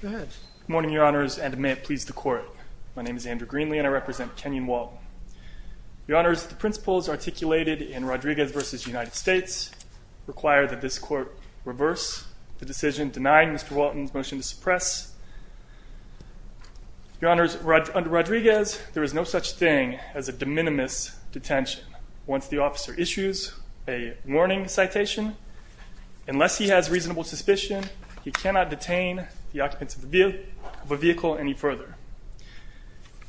Good morning, Your Honors, and may it please the Court, my name is Andrew Greenlee and I represent Kenyon Walton. Your Honors, the principles articulated in Rodriguez v. United States require that this court reverse the decision denying Mr. Walton's motion to suppress. Your Honors, under Rodriguez there is no such thing as a de minimis detention. Once the officer issues a warning citation, unless he has reasonable suspicion, he cannot detain the occupants of a vehicle any further.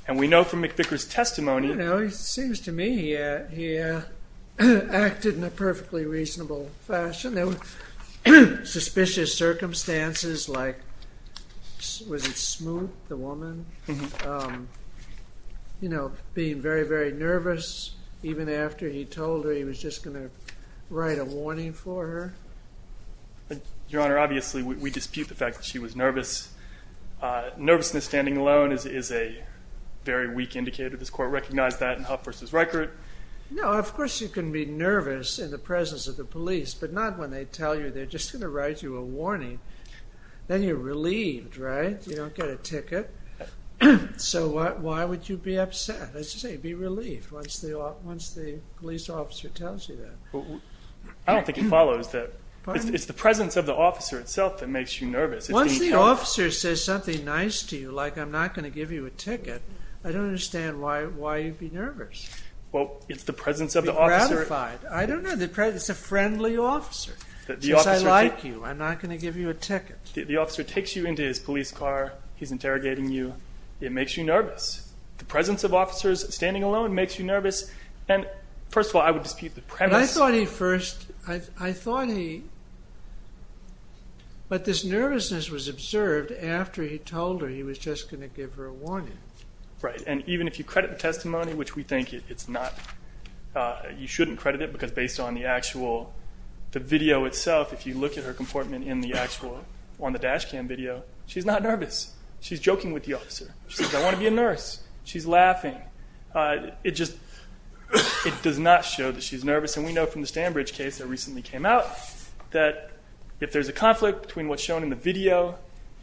And we know from McVicker's testimony... You know, it seems to me he acted in a perfectly reasonable fashion. There were suspicious circumstances like, was it Smoot, the woman? You know, being very, very nervous even after he told her he was just gonna write a warning for her. Your Honor, obviously we dispute the fact that she was nervous. Nervousness standing alone is a very weak indicator. This Court recognized that in Huff v. Reichert. No, of course you can be nervous in the presence of the police, but not when they tell you they're just gonna write you a warning. Then you're relieved, right? You don't get a ticket. So why would you be upset? As you say, be relieved once the police officer tells you that. I don't think it it's the presence of the officer itself that makes you nervous. Once the officer says something nice to you, like I'm not gonna give you a ticket, I don't understand why you'd be nervous. Well, it's the presence of the officer. I don't know, it's a friendly officer. Since I like you, I'm not gonna give you a ticket. The officer takes you into his police car. He's interrogating you. It makes you nervous. The presence of officers standing alone makes you nervous. And he, but this nervousness was observed after he told her he was just gonna give her a warning. Right, and even if you credit the testimony, which we think it's not, you shouldn't credit it, because based on the actual, the video itself, if you look at her comportment in the actual, on the dash cam video, she's not nervous. She's joking with the officer. She says, I want to be a nurse. She's laughing. It just, it does not show that she's nervous, and we know from the that if there's a conflict between what's shown in the video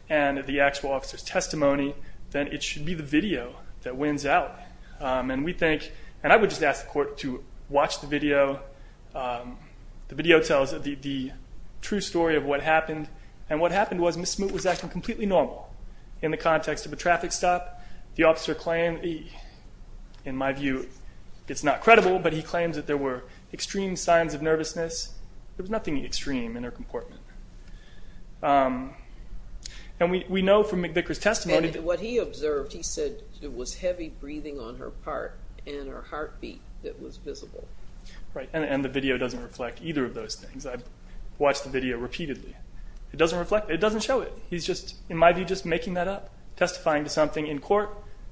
and the actual officer's testimony, then it should be the video that wins out. And we think, and I would just ask the court to watch the video. The video tells the true story of what happened, and what happened was Miss Smoot was acting completely normal in the context of a traffic stop. The officer claimed, in my view, it's not credible, but he claims that there were extreme signs of nervousness. There was nothing extreme in her comportment. And we know from McVicker's testimony that... And what he observed, he said it was heavy breathing on her part, and her heartbeat that was visible. Right, and the video doesn't reflect either of those things. I've watched the video repeatedly. It doesn't reflect, it doesn't show it. He's just, in my view, just making that up, testifying to something in court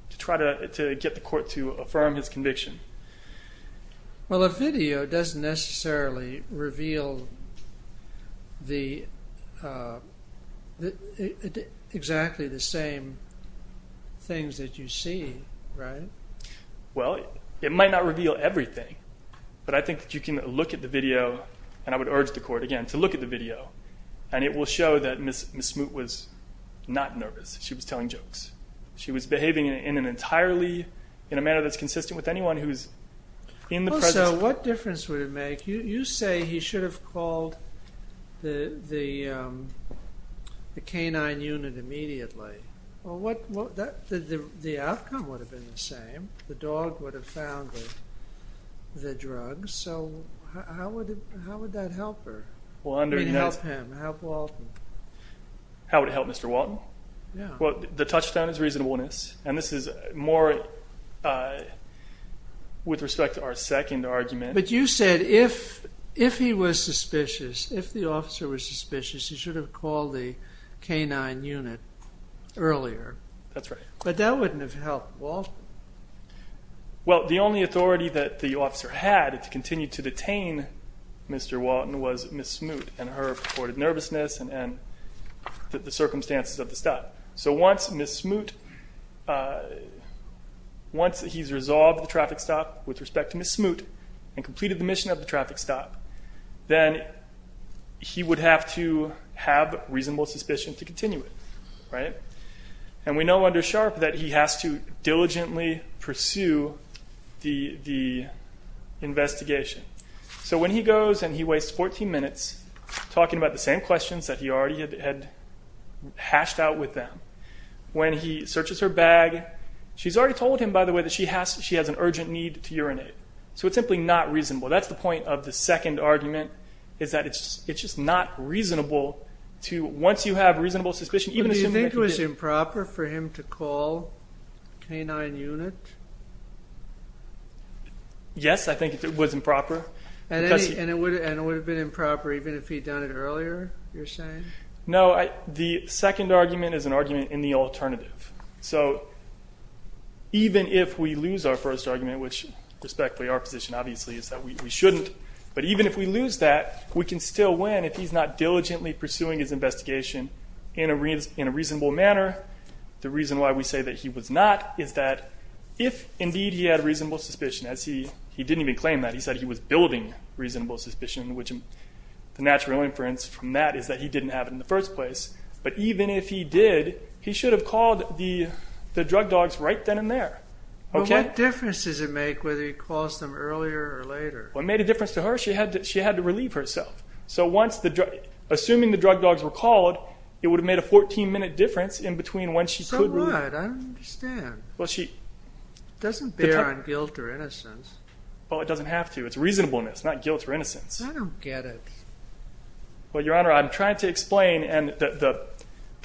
to try to get the court to affirm his conviction. Well, the video doesn't necessarily reveal exactly the same things that you see, right? Well, it might not reveal everything, but I think that you can look at the video, and I would urge the court, again, to look at the video, and it will show that Miss Smoot was not nervous. She was telling jokes. She was behaving in an entirely, in a manner that's consistent with anyone who's in the presence of the court. Also, what difference would it make, you say he should have called the canine unit immediately. Well, the outcome would have been the same. The dog would have found the drugs, so how would that help her? I mean, help him, help Walton. How would it help Mr. Walton? Well, the touchdown is reasonableness, and this is more with respect to our second argument. But you said if he was suspicious, if the officer was suspicious, he should have called the canine unit earlier. That's right. But that wouldn't have helped Walton. Well, the only authority that the officer had to continue to detain Mr. Walton was Miss Smoot, and her reported nervousness, and the circumstances of the stop. So once Miss Smoot, once he's resolved the traffic stop with respect to Miss Smoot, and completed the mission of the traffic stop, then he would have to have reasonable suspicion to continue it, right? And we know under Sharpe that he has to diligently pursue the investigation. So when he goes, and he wastes 14 minutes talking about the same questions that he already had hashed out with them, when he searches her bag, she's already told him, by the way, that she has an urgent need to urinate. So it's simply not reasonable. That's the point of the second argument, is that it's just not reasonable to, once you have reasonable suspicion, even if you think it was improper for him to call the canine unit? Yes, I think it was improper. And it would have been improper even if he'd done it earlier, you're saying? No, the second argument is an argument in the alternative. So even if we lose our first argument, which respectfully our position obviously is that we shouldn't, but even if we lose that, we can still win if he's not diligently pursuing his investigation in a reasonable manner. The reason why we say that he was not, is that if indeed he had reasonable suspicion, as he didn't even claim that, he said he was building reasonable suspicion, which the natural inference from that is that he didn't have it in the first place, but even if he did, he should have called the the drug dogs right then and there, okay? What difference does it make whether he calls them earlier or later? What made a difference to her? She had to relieve herself. So assuming the drug dogs were called, it would have made a 14-minute difference in between when she could relieve herself. So what? I don't understand. It doesn't bear on guilt or innocence. Well, it doesn't have to. It's reasonableness, not guilt or innocence. I don't get it. Well, Your Honor, I'm trying to explain, and the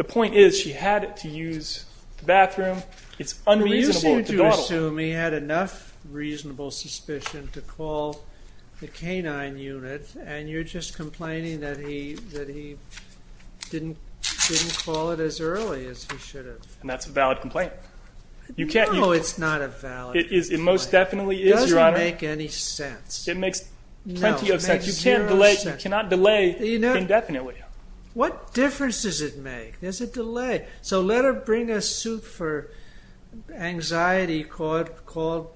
point is she had to use the bathroom. It's unreasonable. You seem to assume he had enough reasonable suspicion to call the canine unit, and you're just complaining that he didn't call it as early as he should have. And that's a valid complaint. No, it's not a valid complaint. It most definitely is, Your Honor. It doesn't make any sense. It makes plenty of sense. You can't delay indefinitely. What difference does it make? There's a delay. So let her bring a suit for anxiety caused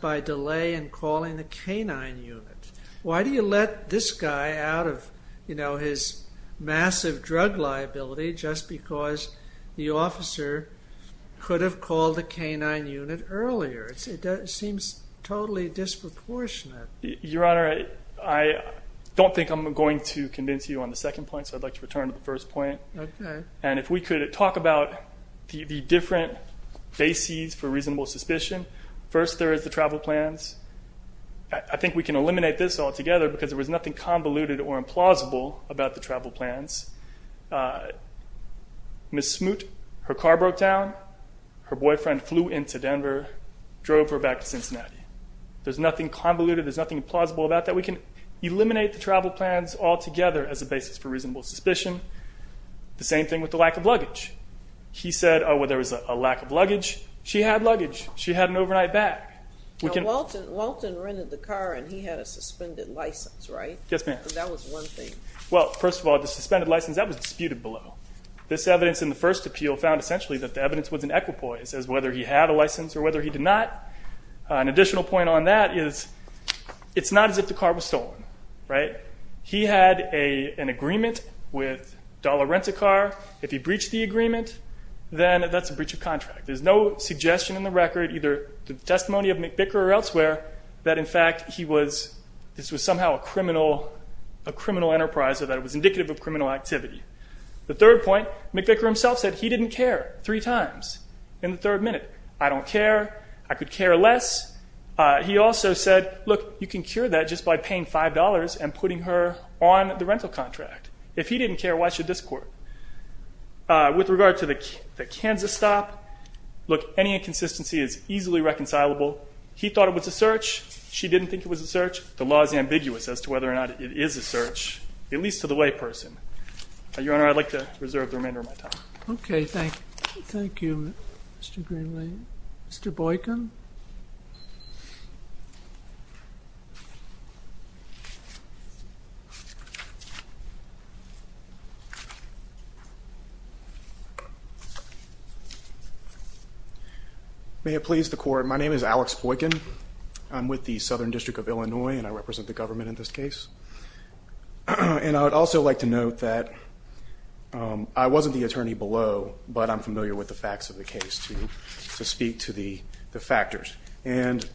by delay in calling the canine unit. Why do you let this guy out of, you know, his massive drug liability just because the officer could have called the canine unit earlier? It seems totally disproportionate. Your Honor, I don't think I'm going to convince you on the second point, so I'd like to return to the first point. Okay. And if we could talk about the different bases for reasonable suspicion. First, there is the travel plans. I think we can eliminate this altogether because there was nothing convoluted or implausible about the travel plans. Ms. Smoot, her car broke down, her boyfriend flew into Denver, drove her back to Cincinnati. There's nothing convoluted. There's nothing plausible about that. We can eliminate the travel plans altogether as a basis for reasonable suspicion. The same thing with the lack of luggage. He said, oh, well, there was a lack of luggage. She had luggage. She had an overnight bag. Now, Walton rented the car and he had a suspended license, right? Yes, ma'am. That was one thing. Well, first of all, the suspended license, that was disputed below. This evidence in the first appeal found essentially that the evidence was an equipoise as whether he had a license or whether he did not. An additional point on that is it's not as if the car was stolen, right? He had an agreement with Dollar Rent-A-Car. If he breached the agreement, then that's a breach of contract. There's no suggestion in the record, either the testimony of a criminal enterprise or that it was indicative of criminal activity. The third point, McVicker himself said he didn't care three times in the third minute. I don't care. I could care less. He also said, look, you can cure that just by paying $5 and putting her on the rental contract. If he didn't care, why should this court? With regard to the Kansas stop, look, any inconsistency is easily reconcilable. He thought it was a search. She didn't think it was a search. It is a search, at least to the layperson. Your Honor, I'd like to reserve the remainder of my time. Okay. Thank you. Thank you, Mr. Greenlee. Mr. Boykin. May it please the court. My name is Alex Boykin. I'm with the Southern and I would also like to note that I wasn't the attorney below, but I'm familiar with the facts of the case to to speak to the factors and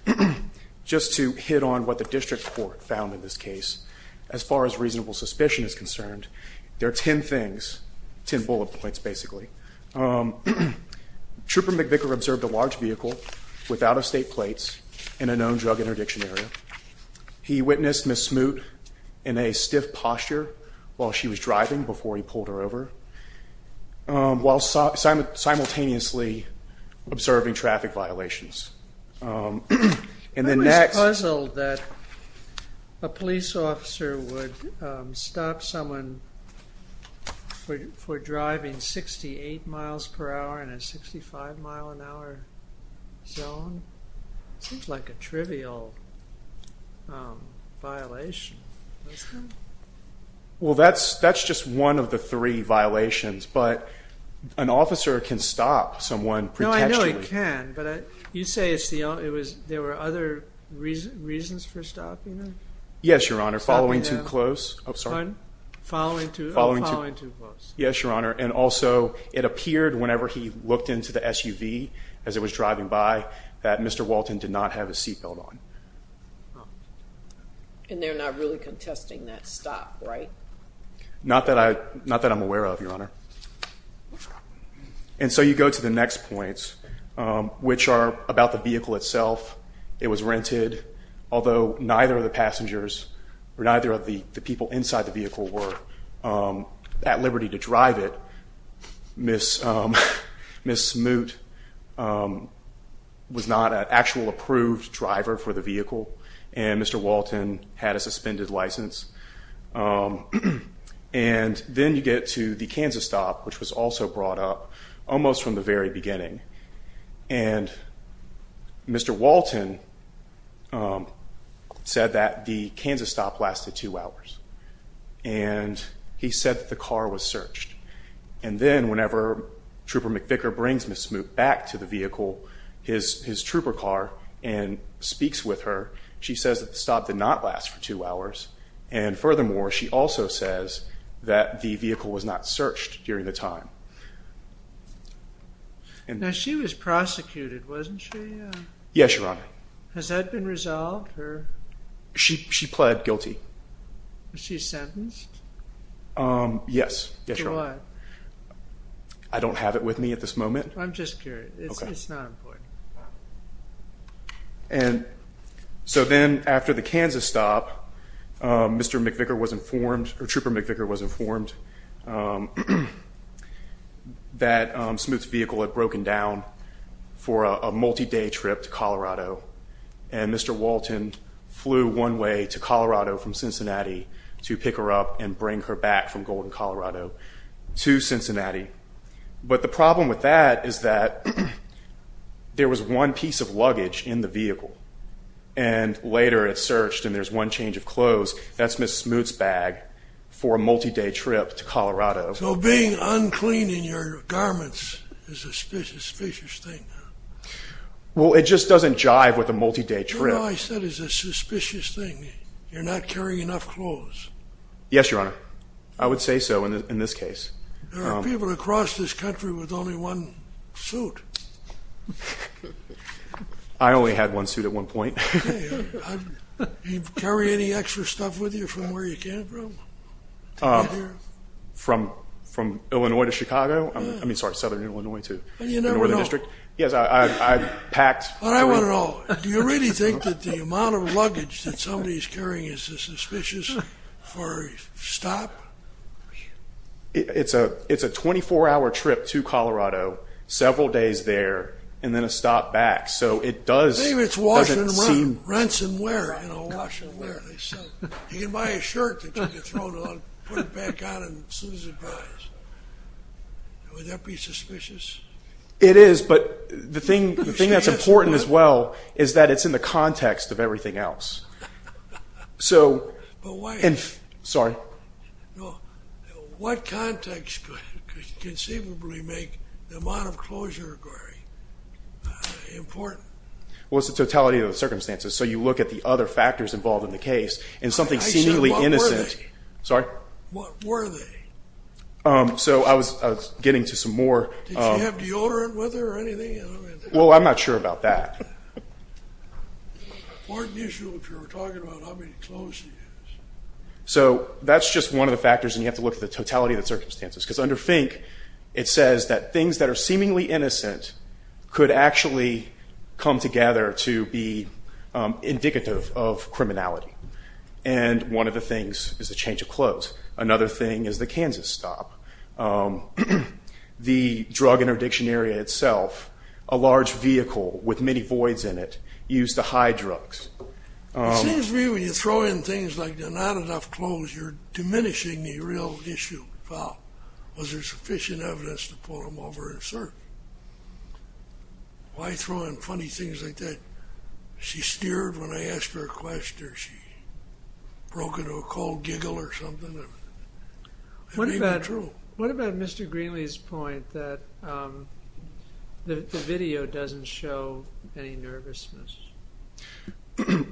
just to hit on what the district court found in this case. As far as reasonable suspicion is concerned, there are 10 things, 10 bullet points. Basically, um, trooper McVicker observed a large vehicle without a state plates in a known drug interdiction area. He witnessed Ms. Smoot in a stiff posture while she was driving before he pulled her over, while simultaneously observing traffic violations. And the next... I was puzzled that a police officer would stop someone for driving 68 miles per hour in a 65 mile an hour zone. Seems like a trivial violation. Well, that's just one of the three violations, but an officer can stop someone. No, I know he can, but you say there were other reasons for stopping him? Yes, Your Honor. Following too close. Oh, sorry. Following too close. Yes, Your Honor. And also, it appeared whenever he looked into the SUV as it was driving by that Mr. Walton did not have a seat belt on. And they're not really contesting that stop, right? Not that I'm aware of, Your Honor. And so you go to the next points, which are about the vehicle itself. It was rented, although neither of the passengers or neither of the people inside the vehicle were at liberty to drive it. Ms. Smoot was not an actual approved driver for the vehicle, and Mr. Walton had a suspended license. And then you get to the Kansas stop, which was also brought up almost from the very beginning. And Mr. Walton said that the Kansas stop lasted two hours, and he said that the car was searched. And then whenever Trooper McVicker brings Ms. Smoot back to the vehicle, his trooper car, and speaks with her, she says that the stop did not last for two hours. And furthermore, she also says that the vehicle was not searched during the time. Now, she was prosecuted, wasn't she? Yes, Your Honor. Has that been resolved? She pled guilty. She's sentenced? Yes. I don't have it with me at this moment. I'm just curious. It's not important. And so then after the Kansas stop, Mr. McVicker was informed, or Trooper McVicker was informed, that Smoot's vehicle had broken down for a multi-day trip to Colorado. And Mr. Walton flew one way to Colorado from Cincinnati to pick her up and bring her back from Golden, Colorado to Cincinnati. But the problem with that is that there was one piece of luggage in the vehicle. And later it's searched, and there's one change of clothes. That's Ms. Smoot's bag for a multi-day trip to Colorado. So being unclean in your garments is a suspicious thing? Well, it just doesn't jive with a multi-day trip. All I said is a suspicious thing. You're not carrying enough clothes. Yes, Your Honor. I would say so in this case. There are people across this country with only one suit. I only had one suit at one point. Do you carry any extra stuff with you from where you came from? From Illinois to Chicago. I mean, sorry, Southern Illinois to the Northern District. Yes, I packed. But I want to know, do you really think that the amount of luggage that somebody's carrying is suspicious for a stop? It's a 24-hour trip to Colorado, several days there, and then a stop back. So it does seem... Maybe it's wash and run, rinse and wear, you know, wash and wear. You can buy a shirt that you can throw it on, put it back on as soon as it dries. Would that be suspicious? It is, but the thing that's important as well is that it's in the context of everything else. So... But why? Sorry. What context could conceivably make the amount of closure requiring important? Well, it's the totality of the circumstances. So you look at the other factors involved in the case and something seemingly innocent... I said, what were they? Sorry? What were they? So I was getting to some more... Did you have deodorant with her or anything? Well, I'm not sure about that. It's an important issue if you're talking about how many clothes she has. So that's just one of the factors and you have to look at the totality of the circumstances. Because under FINK, it says that things that are seemingly innocent could actually come together to be indicative of criminality. And one of the things is a change of clothes. Another thing is the Kansas stop. The drug interdiction area itself, a large vehicle with many voids in it, used to hide drugs. It seems to me when you throw in things like there's not enough clothes, you're diminishing the real issue. Was there sufficient evidence to pull them over and assert? Why throw in funny things like that? She steered when I asked her a question. She broke into a cold giggle or something. What about Mr. Greenlee's point that the video doesn't show any nervousness?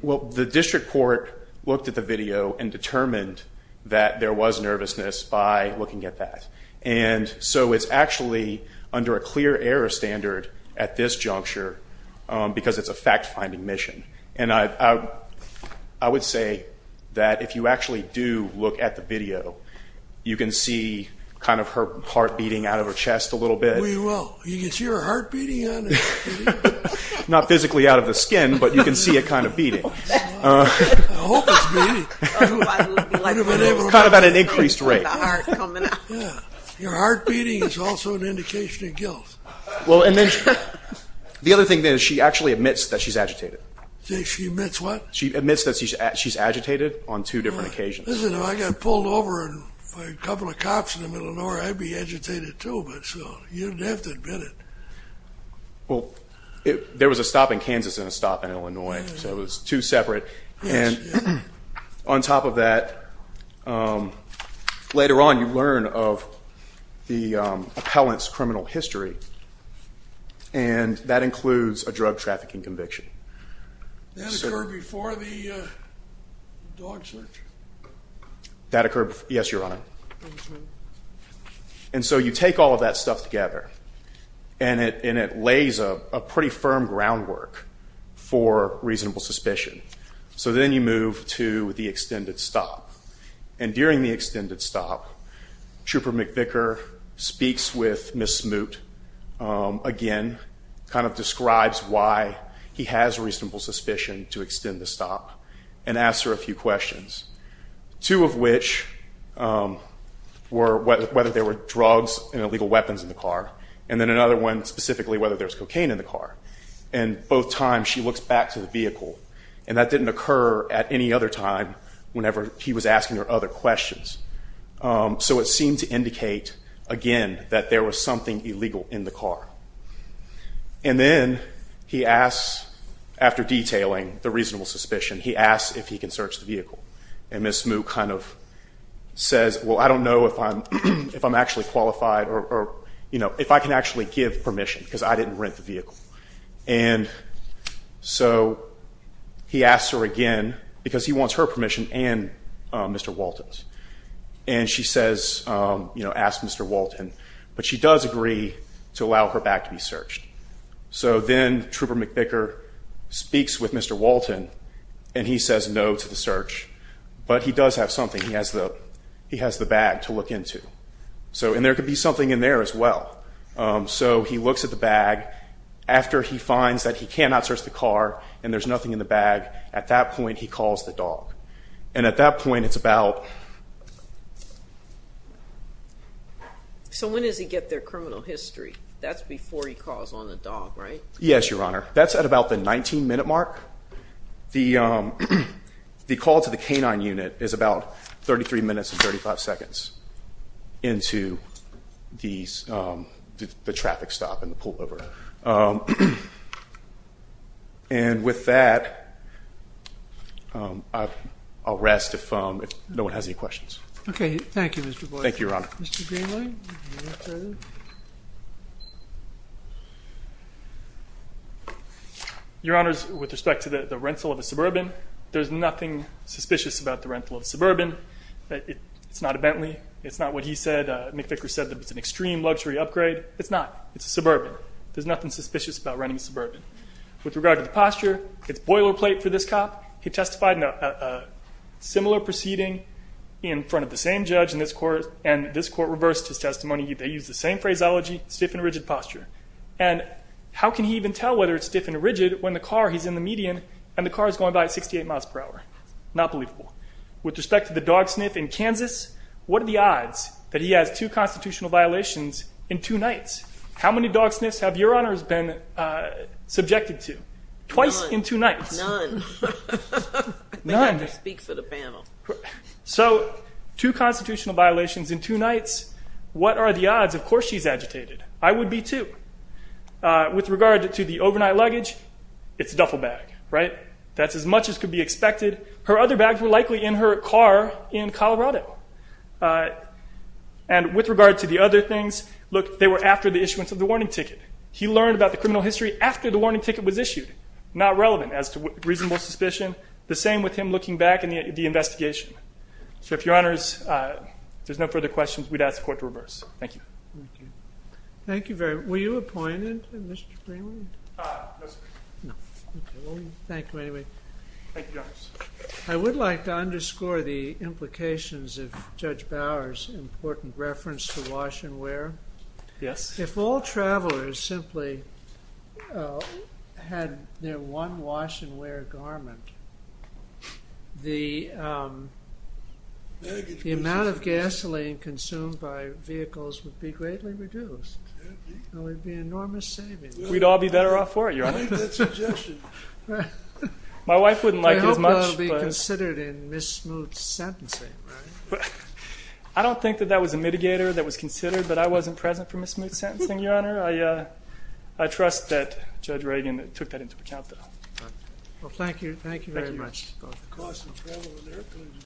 Well, the district court looked at the video and determined that there was nervousness by looking at that. And so it's actually under a clear error standard at this juncture because it's a fact-finding mission. And I would say that if you actually do look at the video, you can see kind of her heart beating out of her chest a little bit. We will. You can see her heart beating out of her chest? Not physically out of the skin, but you can see it kind of beating. I hope it's beating. Kind of at an increased rate. Your heart beating is also an indication of guilt. Well, and then the other thing is she actually admits that she's agitated. She admits what? She admits that she's agitated on two different occasions. Listen, if I got pulled over by a couple of cops in the middle of nowhere, I'd be agitated too. But so you'd have to admit it. Well, there was a stop in Kansas and a stop in Illinois. So it was two separate. And on top of that, later on you learn of the appellant's criminal history. And that includes a drug trafficking conviction. That occurred before the dog search? That occurred before. Yes, Your Honor. And so you take all of that stuff together and it lays a pretty firm groundwork for reasonable suspicion. So then you move to the extended stop. And during the extended stop, Trooper McVicker speaks with Ms. Fishen to extend the stop and ask her a few questions. Two of which were whether there were drugs and illegal weapons in the car. And then another one specifically whether there's cocaine in the car. And both times she looks back to the vehicle and that didn't occur at any other time whenever he was asking her other questions. So it seemed to indicate again that there was something illegal in the car. And then he asks, after detailing the reasonable suspicion, he asks if he can search the vehicle. And Ms. Smoot kind of says, well, I don't know if I'm actually qualified or, you know, if I can actually give permission because I didn't rent the vehicle. And so he asks her again because he wants her permission and Mr. Walton's. And she says, you know, ask Mr. Walton. But she does agree to allow her back to be searched. So then Trooper McVicker speaks with Mr. Walton and he says no to the search. But he does have something. He has the bag to look into. So and there could be something in there as well. So he looks at the bag. After he finds that he cannot search the car and there's nothing in the bag, at that point, he calls the dog. And at that point, it's about. So when does he get their criminal history? That's before he calls on the dog, right? Yes, Your Honor. That's at about the 19 minute mark. The call to the K-9 unit is about 33 minutes and 35 seconds into the traffic stop and the pullover. And with that, I'll rest if no one has any questions. Okay. Thank you, Mr. Boyd. Thank you, Your Honor. Your Honors, with respect to the rental of a Suburban, there's nothing suspicious about the rental of a Suburban. It's not a Bentley. It's not what he said. McVicker said that it's an extreme luxury upgrade. It's not. It's a Suburban. There's nothing suspicious about renting a Suburban. With regard to the posture, it's boilerplate for this cop. He testified in a similar proceeding in front of the same judge in this court, and this court reversed his testimony. They used the same phraseology, stiff and rigid posture. And how can he even tell whether it's stiff and rigid when the car, he's in the median, and the car is going by at 68 miles per hour? Not believable. With respect to the dog sniff in Kansas, what are the odds that he has two constitutional violations in two nights? How many dog sniffs have Your Honors been subjected to? Twice in two nights? None. None. Speak for the panel. So, two constitutional violations in two nights. What are the odds? Of course, she's agitated. I would be too. With regard to the overnight luggage, it's a duffel bag, right? That's as much as could be expected. Her other bags were likely in her car in Colorado. And with regard to the other things, look, they were after the issuance of the warning ticket. He learned about the criminal history after the warning ticket was issued. Not relevant as to reasonable suspicion. The same with him looking back in the investigation. So, if Your Honors, there's no further questions, we'd ask the court to reverse. Thank you. Thank you very much. Were you appointed, Mr. Freeman? No, sir. No. Thank you anyway. Thank you, Your Honors. I would like to underscore the implications of Judge Bower's important reference to wash and wear. Yes. If all travelers simply had their one wash and wear garment, the amount of gasoline consumed by vehicles would be greatly reduced. There would be enormous savings. We'd all be better off for it, Your Honor. I like that suggestion. My wife wouldn't like it as much. I hope that will be considered in Ms. Smoot's sentencing, right? I don't think that that was a mitigator that was considered, but I wasn't present for Ms. Smoot's sentencing, Your Honor. I trust that Judge Reagan took that into account, though. Well, thank you. Thank you very much. Thank you.